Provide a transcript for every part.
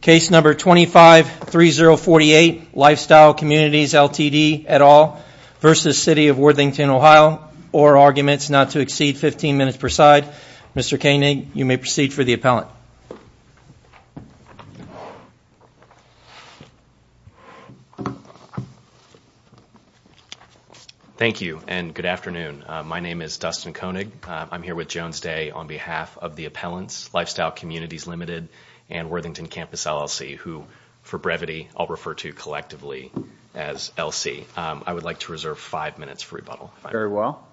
Case number 253048 Lifestyle Communities Ltd et al versus City of Worthington, Ohio or Arguments not to exceed 15 minutes per side. Mr. Koenig, you may proceed for the appellant Thank you and good afternoon, my name is Dustin Koenig I'm here with Jones Day on behalf of the appellants Lifestyle Communities Ltd and Worthington Campus LLC who for brevity I'll refer to collectively as LC I would like to reserve five minutes for rebuttal. Very well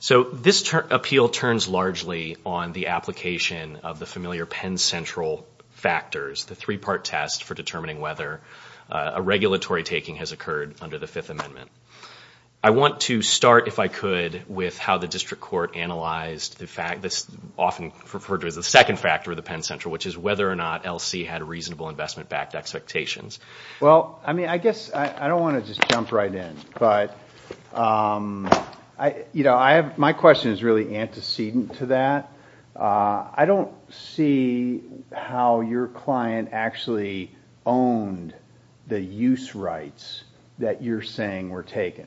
So this appeal turns largely on the application of the familiar Penn Central factors the three-part test for determining whether a regulatory taking has occurred under the Fifth Amendment. I Analyzed the fact this often referred to as the second factor of the Penn Central Which is whether or not LC had a reasonable investment-backed expectations. Well, I mean, I guess I don't want to just jump right in but You know, I have my question is really antecedent to that I don't see How your client actually owned the use rights that you're saying were taken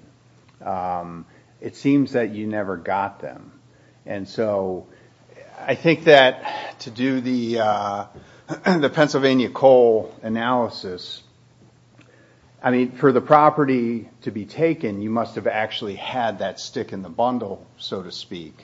It seems that you never got them and so I think that to do the the Pennsylvania coal analysis, I mean for the property to be taken you must have actually had that stick in the bundle so to speak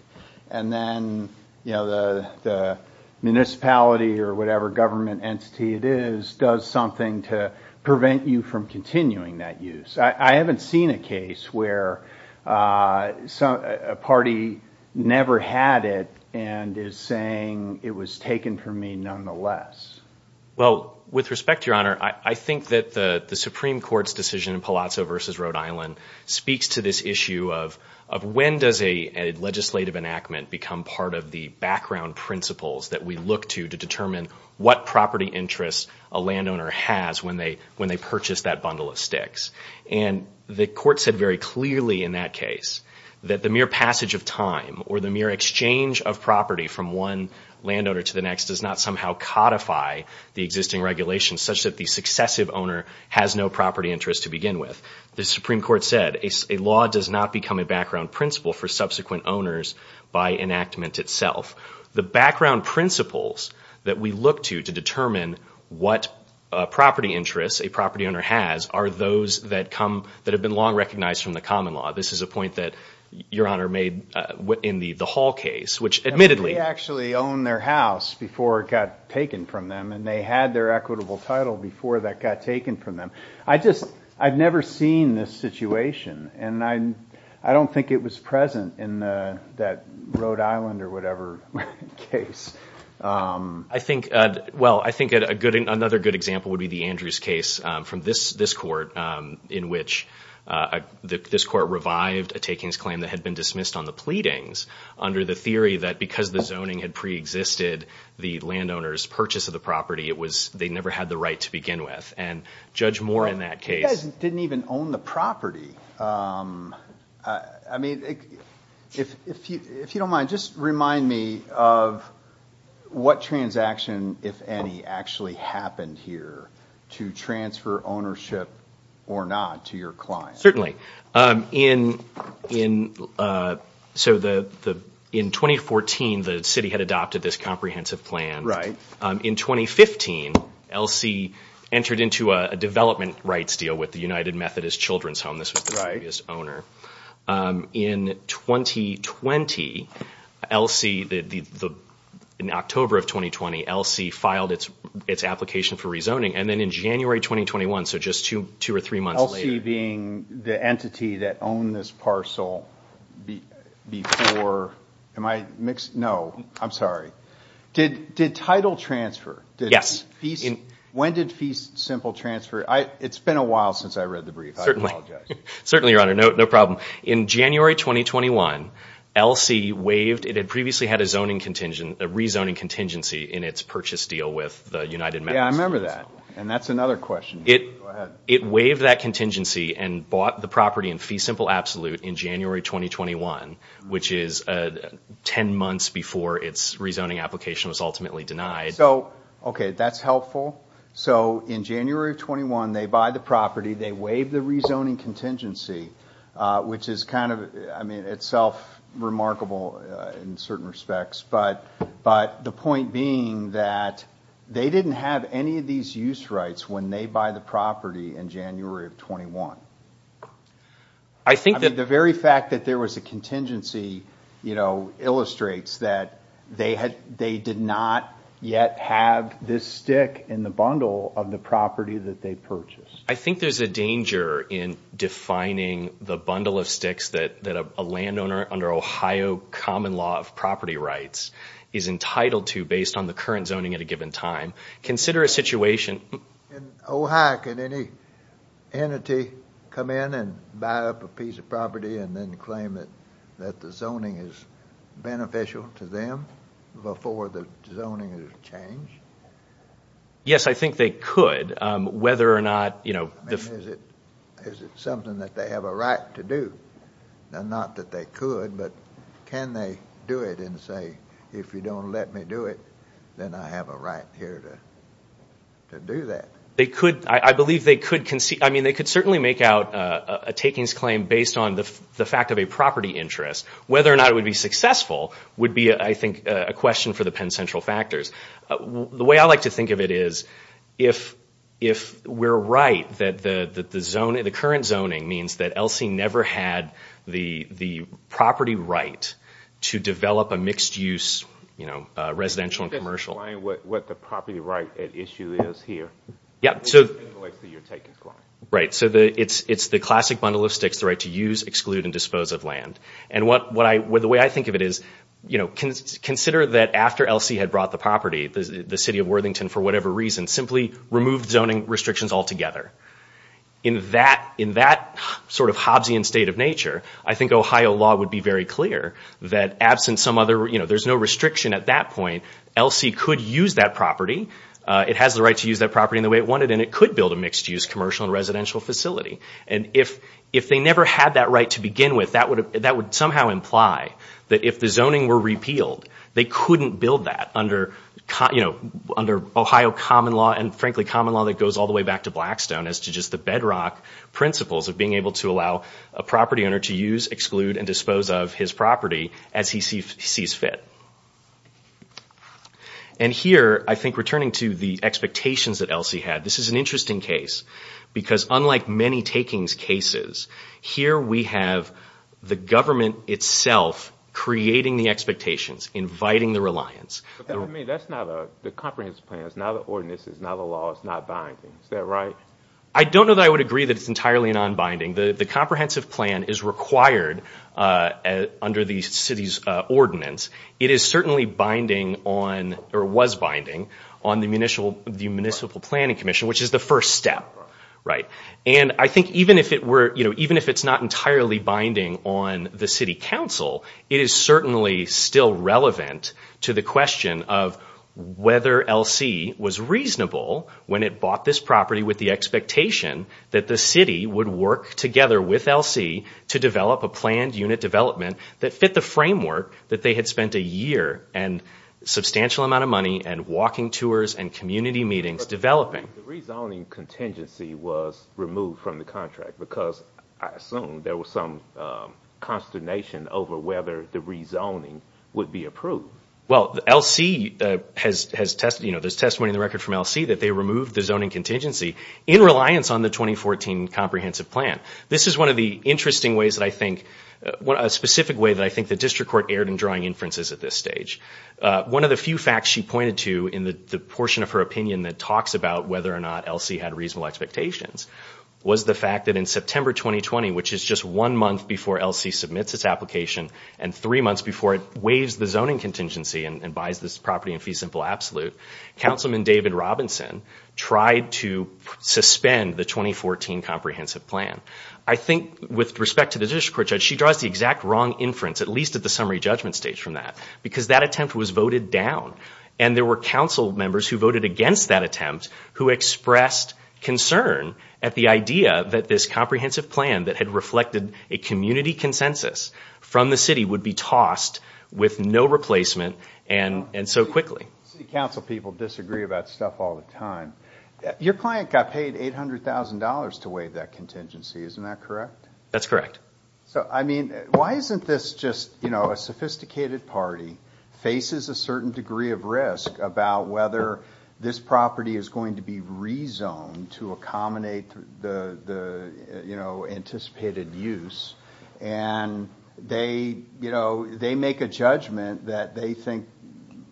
and then you know, the Municipality or whatever government entity it is does something to prevent you from continuing that use. I haven't seen a case where So a party never had it and is saying it was taken from me nonetheless Well with respect to your honor I think that the the Supreme Court's decision in Palazzo versus Rhode Island speaks to this issue of of when does a legislative enactment become part of the background principles that we look to to determine what property interest a Landowner has when they when they purchase that bundle of sticks and the court said very clearly in that case That the mere passage of time or the mere exchange of property from one Landowner to the next does not somehow codify the existing regulations such that the successive owner has no property interest to begin with The Supreme Court said a law does not become a background principle for subsequent owners by enactment itself The background principles that we look to to determine what Property interests a property owner has are those that come that have been long recognized from the common law This is a point that your honor made what in the the Hall case which admittedly Actually owned their house before it got taken from them and they had their equitable title before that got taken from them I just I've never seen this situation and I I don't think it was present in that Rhode Island or whatever case I think well, I think a good another good example would be the Andrews case from this this court in which The this court revived a takings claim that had been dismissed on the pleadings Under the theory that because the zoning had pre-existed the landowners purchase of the property It was they never had the right to begin with and judge more in that case didn't even own the property I If you if you don't mind just remind me of What transaction if any actually happened here to transfer ownership or not to your client? certainly in in So the the in 2014 the city had adopted this comprehensive plan, right in 2015 LC entered into a development rights deal with the United Methodist Children's Home. This was right as owner In 2020 LC the the in October of 2020 LC filed its its application for rezoning and then in January 2021 So just to two or three months being the entity that owned this parcel Before am I mixed? No, I'm sorry. Did did title transfer? Yes, he's in when did feast simple transfer. I it's been a while since I read the brief certainly Certainly your honor no problem in January 2021 LC waived it had previously had a zoning contingent a rezoning contingency in its purchase deal with the United Yeah, I remember that and that's another question it it waived that contingency and bought the property in fee simple absolute in January 2021 which is a Ten months before its rezoning application was ultimately denied. So, okay, that's helpful So in January of 21, they buy the property they waive the rezoning contingency Which is kind of I mean itself remarkable in certain respects But but the point being that they didn't have any of these use rights when they buy the property in January of 21 I Think that the very fact that there was a contingency, you know Illustrates that they had they did not yet have this stick in the bundle of the property that they purchased I think there's a danger in defining the bundle of sticks that that a landowner under Ohio common law of property rights is Entitled to based on the current zoning at a given time consider a situation Ohak and any entity come in and buy up a piece of property and then claim it that the zoning is Beneficial to them before the zoning is changed Yes, I think they could whether or not, you know Is it something that they have a right to do? Now not that they could but can they do it and say if you don't let me do it Then I have a right here to Do that they could I believe they could concede I mean they could certainly make out a takings claim based on the fact of a property interest whether or not it would be successful Would be I think a question for the Penn Central factors the way I like to think of it is if if we're right that the that the zone in the current zoning means that LC never had the the property right to develop a mixed-use You know residential and commercial what the property right at issue is here. Yeah, so Right, so the it's it's the classic bundle of sticks the right to use exclude and dispose of land and what what I would the You know Consider that after LC had brought the property the city of Worthington for whatever reason simply removed zoning restrictions altogether In that in that sort of Hobbesian state of nature I think Ohio law would be very clear that absent some other, you know, there's no restriction at that point LC could use that property it has the right to use that property in the way it wanted and it could build a mixed-use commercial and residential facility and if If they never had that right to begin with that would that would somehow imply that if the zoning were repealed They couldn't build that under cut You know under Ohio common law and frankly common law that goes all the way back to Blackstone as to just the bedrock principles of being able to allow a property owner to use exclude and dispose of his property as he sees fit and Here I think returning to the expectations that LC had this is an interesting case Because unlike many takings cases here we have the government itself Creating the expectations inviting the reliance I mean, that's not a the comprehensive plans now the ordinances now the law is not binding. Is that right? I don't know that I would agree that it's entirely non-binding. The the comprehensive plan is required Under the city's ordinance It is certainly binding on or was binding on the municipal the municipal planning commission, which is the first step Right, and I think even if it were, you know, even if it's not entirely binding on the City Council it is certainly still relevant to the question of whether LC was reasonable when it bought this property with the expectation that the city would work together with LC to develop a planned unit development that fit the framework that they had spent a year and Contingency was removed from the contract because I assume there was some Consternation over whether the rezoning would be approved Well the LC has has tested, you know There's testimony in the record from LC that they removed the zoning contingency in reliance on the 2014 comprehensive plan This is one of the interesting ways that I think What a specific way that I think the district court erred in drawing inferences at this stage One of the few facts she pointed to in the portion of her opinion that talks about whether or not LC had reasonable expectations was the fact that in September 2020 Which is just one month before LC submits its application and three months before it waives the zoning Contingency and buys this property in fee simple absolute Councilman David Robinson tried to Suspend the 2014 comprehensive plan. I think with respect to the district court judge The exact wrong inference at least at the summary judgment stage from that because that attempt was voted down and there were council members who voted against that attempt who expressed concern at the idea that this comprehensive plan that had reflected a Community consensus from the city would be tossed with no replacement and and so quickly Council people disagree about stuff all the time Your client got paid eight hundred thousand dollars to waive that contingency. Isn't that correct? That's correct So, I mean why isn't this just you know a sophisticated party faces a certain degree of risk about whether this property is going to be rezoned to accommodate the you know anticipated use and They you know, they make a judgment that they think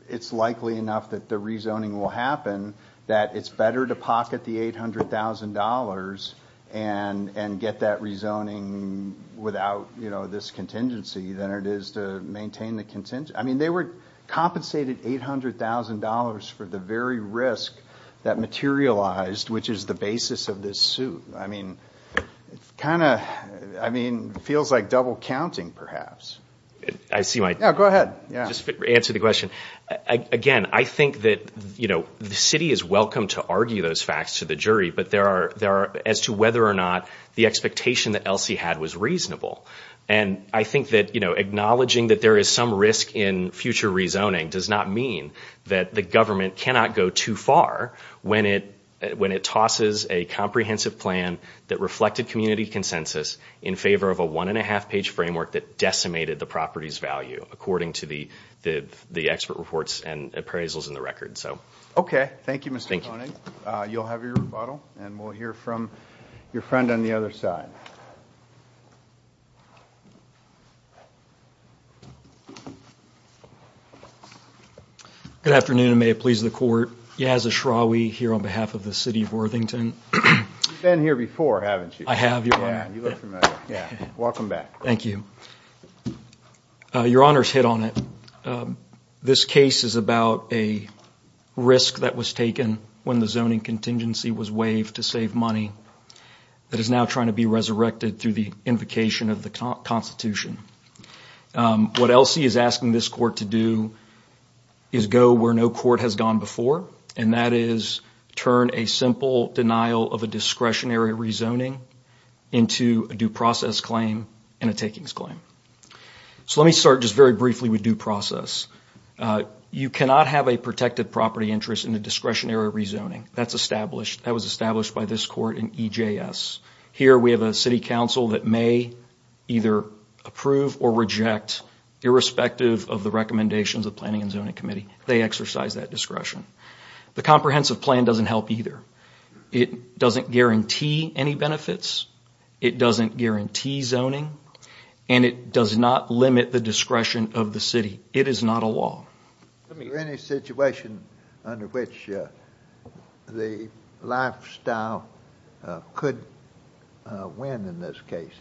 it's likely enough that the rezoning will happen that it's better to pocket the eight hundred thousand dollars and And get that rezoning Without, you know this contingency than it is to maintain the contingent. I mean they were compensated eight hundred thousand dollars for the very risk that Materialized which is the basis of this suit. I mean Kind of I mean feels like double counting perhaps. I see my go ahead. Yeah, just answer the question Again, I think that you know, the city is welcome to argue those facts to the jury but there are there as to whether or not the expectation that Elsie had was reasonable and I think that you know Acknowledging that there is some risk in future rezoning does not mean that the government cannot go too far when it when it tosses a Comprehensive plan that reflected community consensus in favor of a one-and-a-half page framework that decimated the property's value According to the the the expert reports and appraisals in the record. So, okay. Thank you, Mr. You'll have your rebuttal and we'll hear from your friend on the other side Good afternoon and may it please the court. He has a shrawy here on behalf of the city of Worthington Been here before haven't you I have you Welcome back. Thank you Your honors hit on it this case is about a Risk that was taken when the zoning contingency was waived to save money That is now trying to be resurrected through the invocation of the Constitution What Elsie is asking this court to do? Is go where no court has gone before and that is turn a simple denial of a discretionary rezoning Into a due process claim and a takings claim So let me start just very briefly with due process You cannot have a protected property interest in the discretionary rezoning that's established that was established by this court in EJ s Here we have a City Council that may either approve or reject Irrespective of the recommendations of Planning and Zoning Committee. They exercise that discretion The comprehensive plan doesn't help either it doesn't guarantee any benefits It doesn't guarantee zoning and it does not limit the discretion of the city. It is not a law any situation under which the lifestyle could win in this case,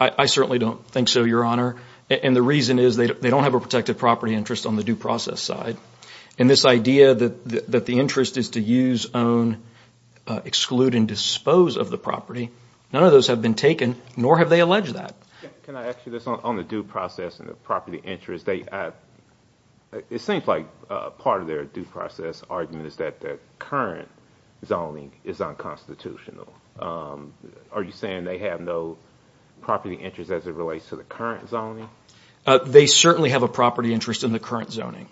I Certainly don't think so your honor And the reason is they don't have a protected property interest on the due process side and this idea that the interest is to use own exclude and dispose of the property None of those have been taken nor have they alleged that on the due process and the property interest they It seems like part of their due process argument is that the current zoning is unconstitutional Are you saying they have no? Property interest as it relates to the current zoning They certainly have a property interest in the current zoning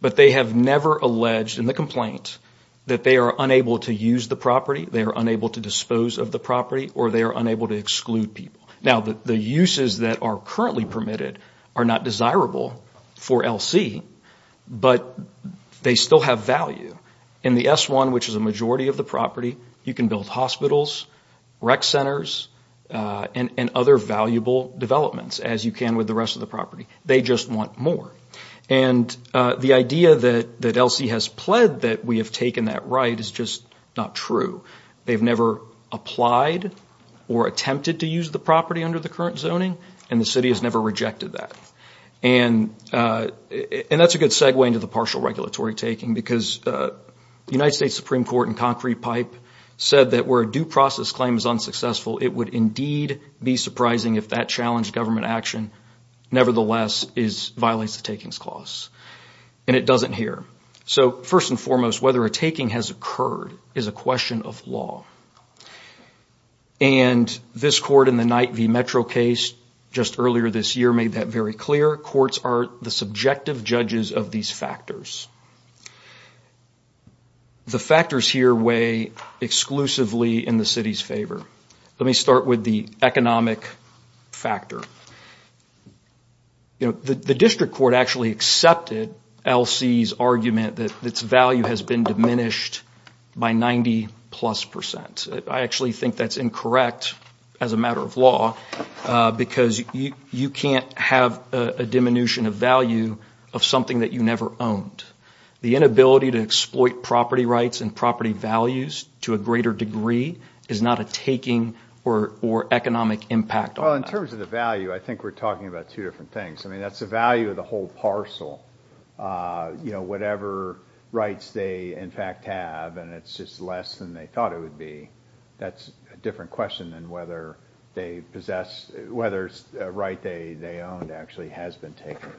But they have never alleged in the complaint that they are unable to use the property They are unable to dispose of the property or they are unable to exclude people now that the uses that are currently permitted are not desirable for LC But they still have value in the s1 which is a majority of the property. You can build hospitals rec centers And and other valuable developments as you can with the rest of the property. They just want more and The idea that that LC has pled that we have taken that right is just not true they've never applied or attempted to use the property under the current zoning and the city has never rejected that and And that's a good segue into the partial regulatory taking because The United States Supreme Court and concrete pipe said that where a due process claim is unsuccessful It would indeed be surprising if that challenged government action Nevertheless is violates the takings clause and it doesn't hear so first and foremost whether a taking has occurred is a question of law and This court in the night V metro case just earlier this year made that very clear courts are the subjective judges of these factors The factors here way exclusively in the city's favor, let me start with the economic factor You know the the district court actually accepted LC's argument that its value has been diminished By 90 plus percent. I actually think that's incorrect as a matter of law Because you you can't have a diminution of value of something that you never owned the inability to exploit property rights and property values to a greater degree is not a taking or Economic impact well in terms of the value. I think we're talking about two different things. I mean, that's the value of the whole parcel You know, whatever rights they in fact have and it's just less than they thought it would be That's a different question than whether they possess whether it's right. They they owned actually has been taken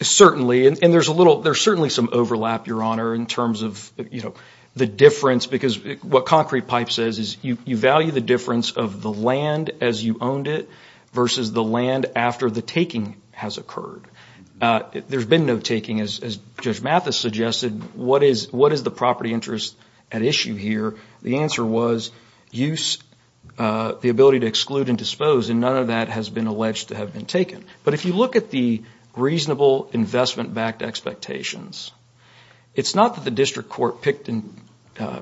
Certainly and there's a little there's certainly some overlap your honor in terms of you know The difference because what concrete pipe says is you you value the difference of the land as you owned it Versus the land after the taking has occurred There's been no taking as Judge Mathis suggested. What is what is the property interest at issue here? The answer was use the ability to exclude and dispose and none of that has been alleged to have been taken but if you look at the reasonable investment backed expectations It's not that the district court picked and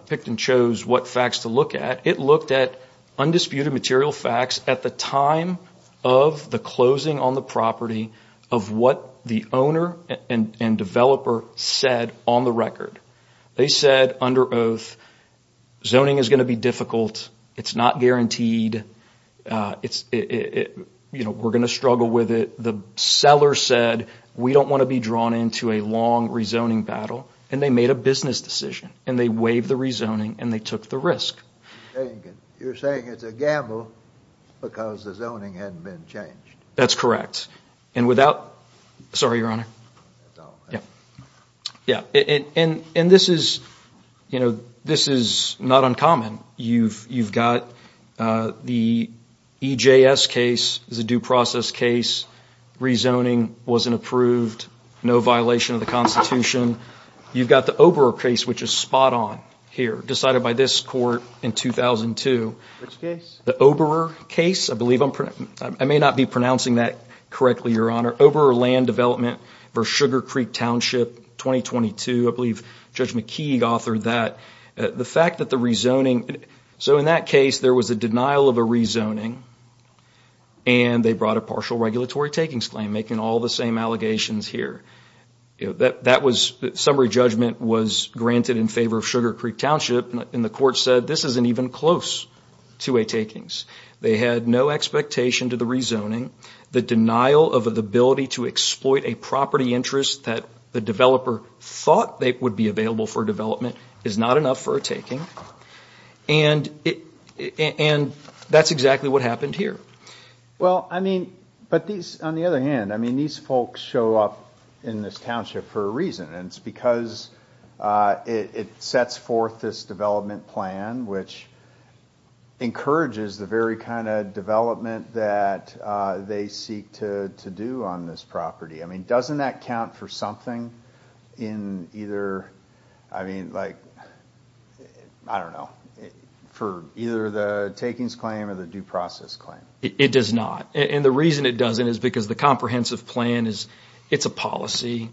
picked and chose what facts to look at it looked at undisputed material facts at the time of The closing on the property of what the owner and and developer said on the record They said under oath Zoning is going to be difficult. It's not guaranteed It's it you know We're gonna struggle with it the seller said We don't want to be drawn into a long rezoning battle and they made a business decision and they waived the rezoning and they took the risk You're saying it's a gamble Because the zoning hadn't been changed. That's correct. And without sorry your honor Yeah Yeah, and and this is you know, this is not uncommon. You've you've got the EJS case is a due process case Rezoning wasn't approved. No violation of the Constitution You've got the Ober case which is spot-on here decided by this court in 2002 The Ober case, I believe I'm I may not be pronouncing that correctly your honor over land development for Sugar Creek Township 2022 I believe judge McKee authored that the fact that the rezoning So in that case there was a denial of a rezoning and They brought a partial regulatory takings claim making all the same allegations here You know that that was summary judgment was granted in favor of Sugar Creek Township and the court said this isn't even close to a takings They had no expectation to the rezoning the denial of the ability to exploit a property interest that the developer Thought they would be available for development is not enough for a taking and And that's exactly what happened here Well, I mean, but these on the other hand, I mean these folks show up in this township for a reason and it's because it sets forth this development plan, which Encourages the very kind of development that They seek to to do on this property. I mean doesn't that count for something in either? I mean like I don't know For either the takings claim or the due process claim It does not and the reason it doesn't is because the comprehensive plan is it's a policy.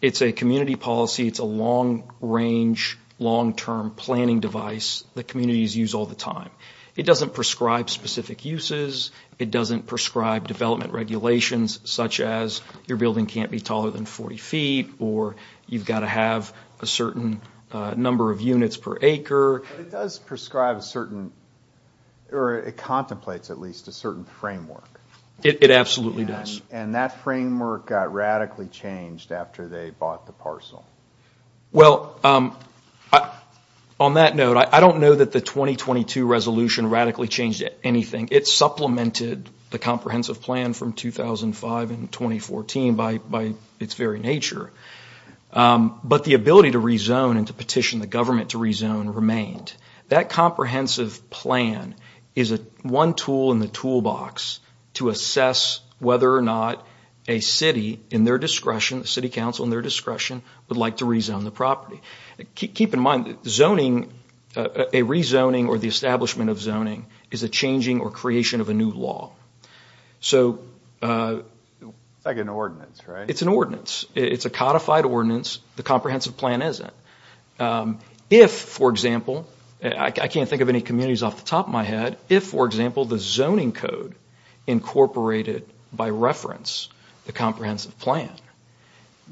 It's a community policy It's a long-range Long-term planning device the communities use all the time. It doesn't prescribe specific uses It doesn't prescribe development regulations such as your building can't be taller than 40 feet or you've got to have a certain Number of units per acre. It does prescribe a certain Or it contemplates at least a certain framework It absolutely does and that framework got radically changed after they bought the parcel well, I On that note. I don't know that the 2022 resolution radically changed anything It supplemented the comprehensive plan from 2005 and 2014 by its very nature But the ability to rezone and to petition the government to rezone remained that comprehensive plan is a one tool in the toolbox to assess whether or not a City in their discretion the City Council in their discretion would like to rezone the property Keep in mind zoning a rezoning or the establishment of zoning is a changing or creation of a new law so Like an ordinance, right? It's an ordinance. It's a codified ordinance the comprehensive plan isn't If for example, I can't think of any communities off the top of my head if for example the zoning code incorporated by reference the comprehensive plan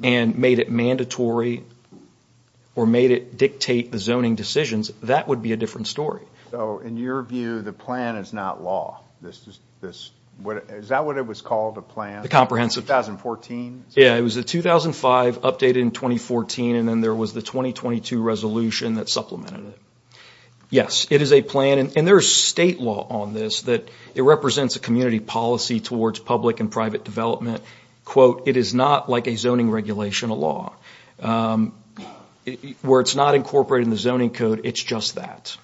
and Made it mandatory Or made it dictate the zoning decisions. That would be a different story. So in your view the plan is not law This what is that what it was called a plan the comprehensive thousand fourteen Yeah, it was the 2005 updated in 2014. And then there was the 2022 resolution that supplemented it Yes, it is a plan and there's state law on this that it represents a community policy towards public and private development Quote it is not like a zoning regulation a law Where it's not incorporated in the zoning code, it's just that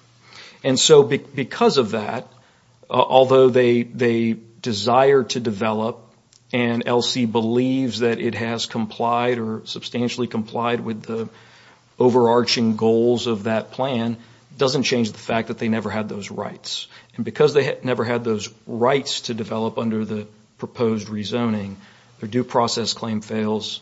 and so because of that Although they they desire to develop and LC believes that it has complied or substantially complied with the overarching goals of that plan Doesn't change the fact that they never had those rights and because they never had those rights to develop under the proposed Rezoning their due process claim fails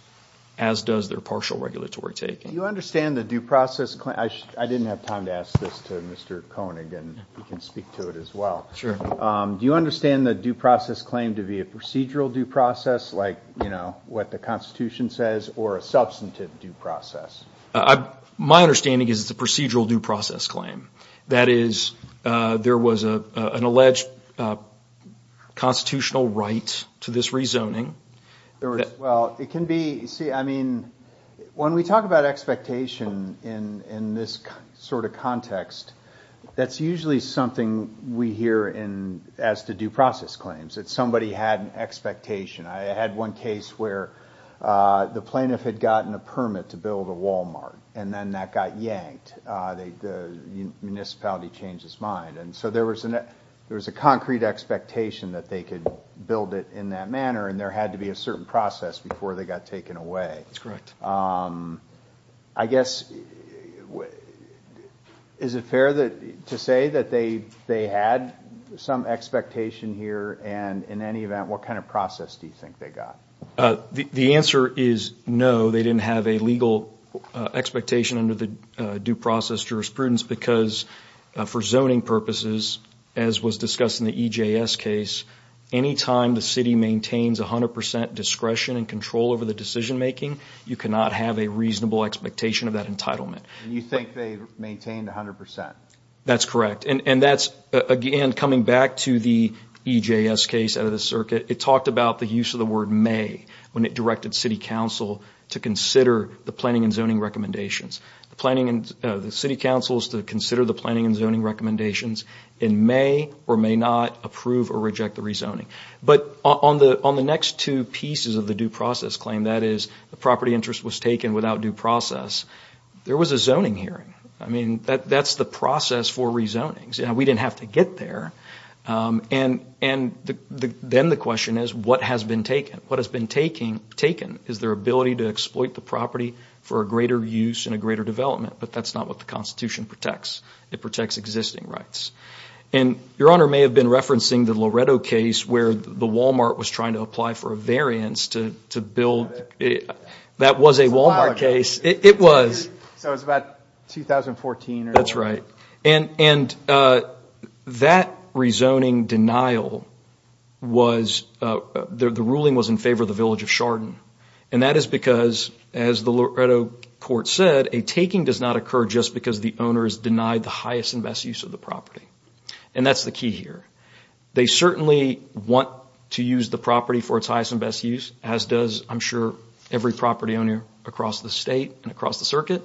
as does their partial regulatory taking you understand the due process claim I didn't have time to ask this to mr. Koenig and you can speak to it as well Sure, do you understand the due process claim to be a procedural due process like, you know What the Constitution says or a substantive due process? I my understanding is it's a procedural due process claim. That is There was a an alleged Constitutional right to this rezoning well, it can be see I mean When we talk about expectation in in this sort of context That's usually something we hear in as to due process claims. It's somebody had an expectation. I had one case where the plaintiff had gotten a permit to build a Walmart and then that got yanked they Municipality changed his mind and so there was an there was a concrete Expectation that they could build it in that manner and there had to be a certain process before they got taken away I guess Is it fair that to say that they they had some expectation here and in any event What kind of process do you think they got? The answer is no, they didn't have a legal expectation under the due process jurisprudence because For zoning purposes as was discussed in the EJS case Anytime the city maintains a hundred percent discretion and control over the decision-making You cannot have a reasonable expectation of that entitlement. You think they've maintained a hundred percent. That's correct And and that's again coming back to the EJS case out of the circuit It talked about the use of the word may when it directed City Council to consider the planning and zoning recommendations the planning and the City Council is to consider the planning and zoning Recommendations in may or may not approve or reject the rezoning But on the on the next two pieces of the due process claim that is the property interest was taken without due process There was a zoning hearing. I mean that that's the process for rezoning. Yeah, we didn't have to get there and and Then the question is what has been taken what has been taking taken is their ability to exploit the property for a greater use in Greater development, but that's not what the Constitution protects it protects existing rights and Your honor may have been referencing the Loretto case where the Walmart was trying to apply for a variance to to build That was a Walmart case. It was That's right and and that rezoning denial was The ruling was in favor of the village of Chardon and that is because as the Loretto Court said a taking does not occur just because the owner is denied the highest and best use of the property and that's the key here They certainly want to use the property for its highest and best use as does I'm sure every property owner across the state and across the circuit,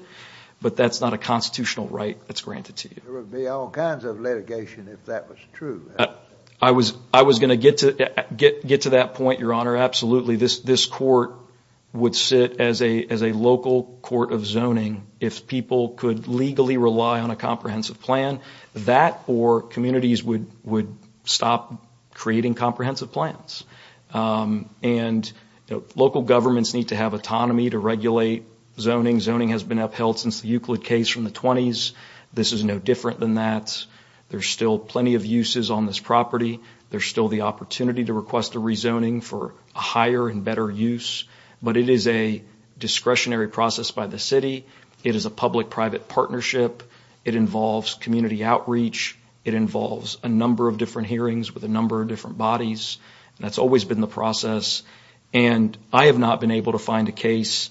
but that's not a constitutional right. That's granted to you There would be all kinds of litigation if that was true I was I was going to get to get get to that point your honor. Absolutely this this court Would sit as a as a local court of zoning if people could legally rely on a comprehensive plan That or communities would would stop creating comprehensive plans and Local governments need to have autonomy to regulate zoning zoning has been upheld since the Euclid case from the 20s This is no different than that. There's still plenty of uses on this property there's still the opportunity to request a rezoning for a higher and better use, but it is a Discretionary process by the city. It is a public-private partnership. It involves community outreach It involves a number of different hearings with a number of different bodies That's always been the process and I have not been able to find a case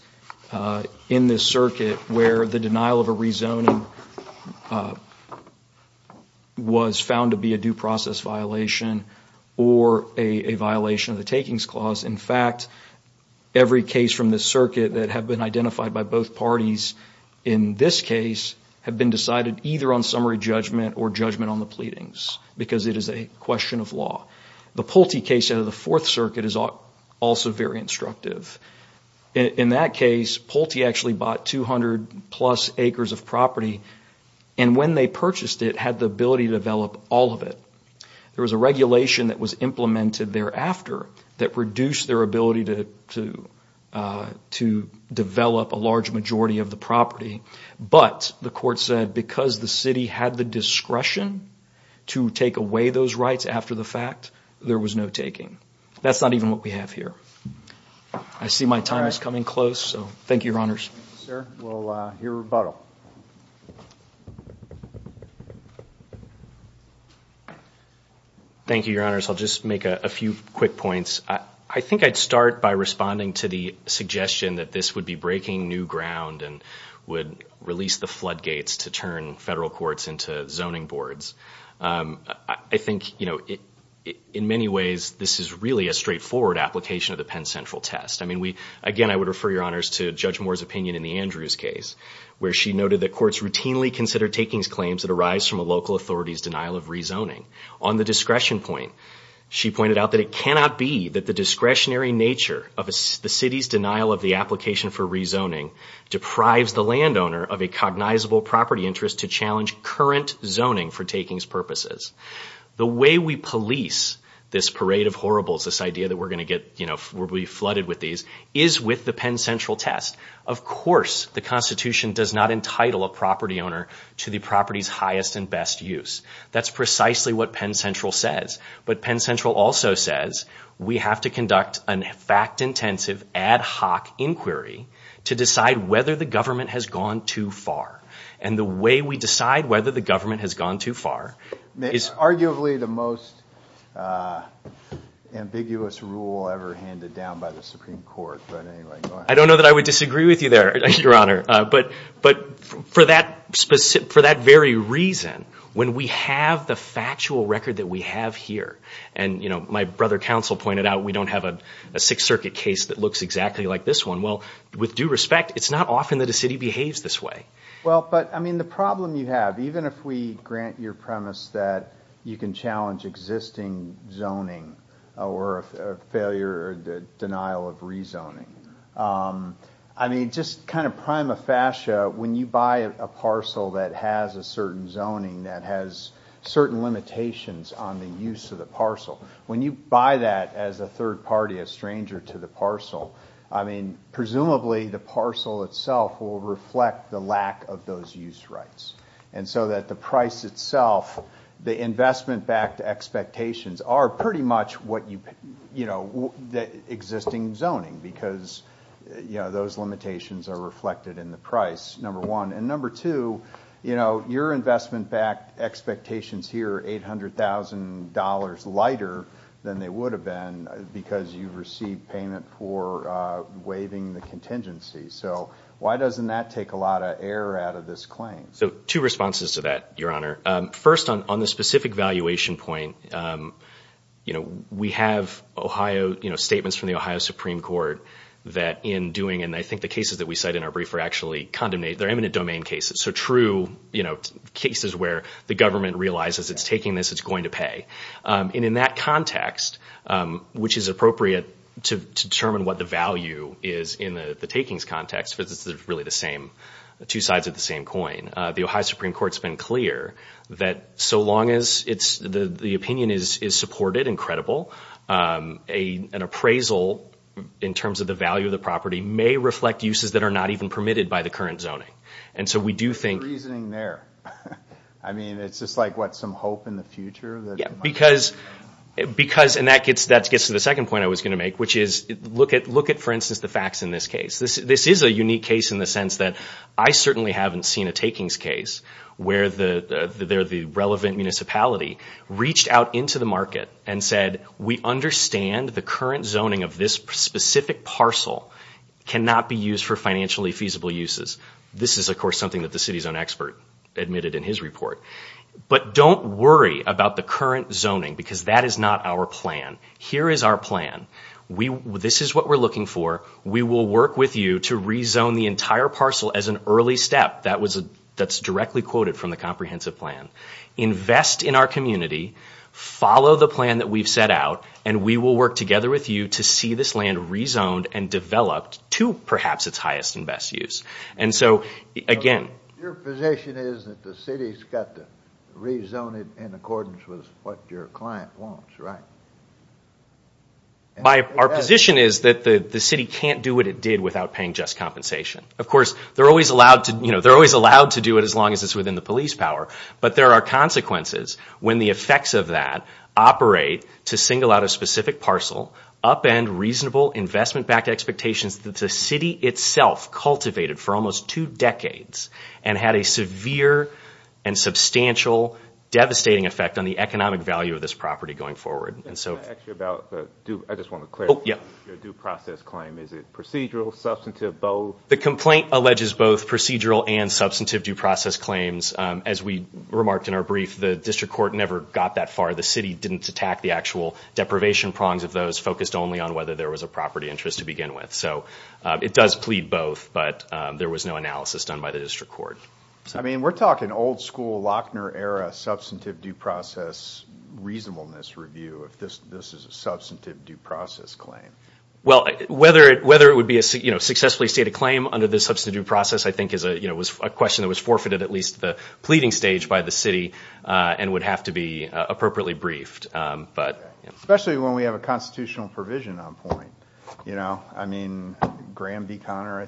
In this circuit where the denial of a rezoning Was found to be a due process violation or a violation of the takings clause in fact Every case from the circuit that have been identified by both parties in This case have been decided either on summary judgment or judgment on the pleadings Because it is a question of law the Pulte case out of the Fourth Circuit is also very instructive In that case Pulte actually bought 200 plus acres of property and When they purchased it had the ability to develop all of it there was a regulation that was implemented thereafter that reduced their ability to to To develop a large majority of the property But the court said because the city had the discretion to take away those rights after the fact There was no taking that's not even what we have here. I See my time is coming close. So thank you your honors Thank you your honors, I'll just make a few quick points I I think I'd start by responding to the suggestion that this would be breaking new ground and would Release the floodgates to turn federal courts into zoning boards I think you know it in many ways. This is really a straightforward application of the Penn Central Test I mean we again I would refer your honors to judge Moore's opinion in the Andrews case Where she noted that courts routinely consider takings claims that arise from a local authorities denial of rezoning on the discretion point She pointed out that it cannot be that the discretionary nature of the city's denial of the application for rezoning Deprives the landowner of a cognizable property interest to challenge current zoning for takings purposes The way we police this parade of horribles this idea that we're going to get you know We'll be flooded with these is with the Penn Central Test Of course, the Constitution does not entitle a property owner to the property's highest and best use That's precisely what Penn Central says But Penn Central also says we have to conduct an fact-intensive ad hoc inquiry To decide whether the government has gone too far and the way we decide whether the government has gone too far is arguably the most Ambiguous rule ever handed down by the Supreme Court But anyway, I don't know that I would disagree with you there your honor but but for that specific for that very reason when we have the factual record that we have here and You know my brother counsel pointed out. We don't have a Sixth Circuit case that looks exactly like this one well with due respect It's not often that a city behaves this way well But I mean the problem you have even if we grant your premise that you can challenge existing zoning or a failure or the denial of rezoning I mean just kind of prima facie when you buy a parcel that has a certain zoning that has Certain limitations on the use of the parcel when you buy that as a third party a stranger to the parcel I mean presumably the parcel itself will reflect the lack of those use rights and so that the price itself the investment-backed expectations are pretty much what you you know that existing zoning because You know those limitations are reflected in the price number one and number two, you know your investment-backed expectations here $800,000 lighter than they would have been because you've received payment for Waiving the contingency. So why doesn't that take a lot of air out of this claim? So two responses to that your honor first on on the specific valuation point You know, we have Ohio, you know statements from the Ohio Supreme Court That in doing and I think the cases that we cite in our brief are actually condemnate their eminent domain cases So true, you know cases where the government realizes it's taking this it's going to pay and in that context Which is appropriate to determine what the value is in the takings context but this is really the same the two sides of the same coin the Ohio Supreme Court's been clear that So long as it's the the opinion is is supported and credible a an appraisal In terms of the value of the property may reflect uses that are not even permitted by the current zoning And so we do think reasoning there. I mean, it's just like what some hope in the future that because Because and that gets that's gets to the second point I was going to make which is look at look at for instance the facts in this case this this is a unique case in the sense that I certainly haven't seen a takings case where the They're the relevant municipality reached out into the market and said we understand the current zoning of this specific Parcel cannot be used for financially feasible uses. This is of course something that the city's own expert admitted in his report But don't worry about the current zoning because that is not our plan here is our plan We this is what we're looking for. We will work with you to rezone the entire parcel as an early step That was a that's directly quoted from the comprehensive plan invest in our community Follow the plan that we've set out and we will work together with you to see this land Rezoned and developed to perhaps its highest and best use and so again Rezone it in accordance with what your client wants, right? By our position is that the the city can't do what it did without paying just compensation Of course, they're always allowed to you know, they're always allowed to do it as long as it's within the police power But there are consequences when the effects of that Operate to single out a specific parcel up and reasonable investment-backed expectations that the city itself cultivated for almost two decades and had a severe and substantial Devastating effect on the economic value of this property going forward. And so Yeah The complaint alleges both procedural and substantive due process claims as we remarked in our brief The district court never got that far the city didn't attack the actual deprivation prongs of those focused only on whether there was a property Interest to begin with so it does plead both but there was no analysis done by the district court I mean, we're talking old-school Lochner era substantive due process Reasonableness review if this this is a substantive due process claim Well, whether it whether it would be a you know, successfully state a claim under this substantive due process I think is a you know was a question that was forfeited at least the pleading stage by the city And would have to be appropriately briefed But especially when we have a constitutional provision on point, you know, I mean Graham D Connor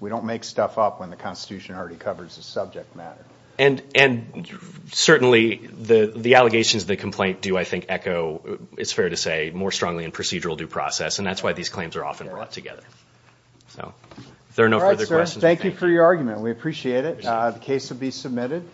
We don't make stuff up when the Constitution already covers the subject matter and and Certainly the the allegations the complaint do I think echo? It's fair to say more strongly in procedural due process and that's why these claims are often brought together So there are no questions. Thank you for your argument. We appreciate it. The case would be submitted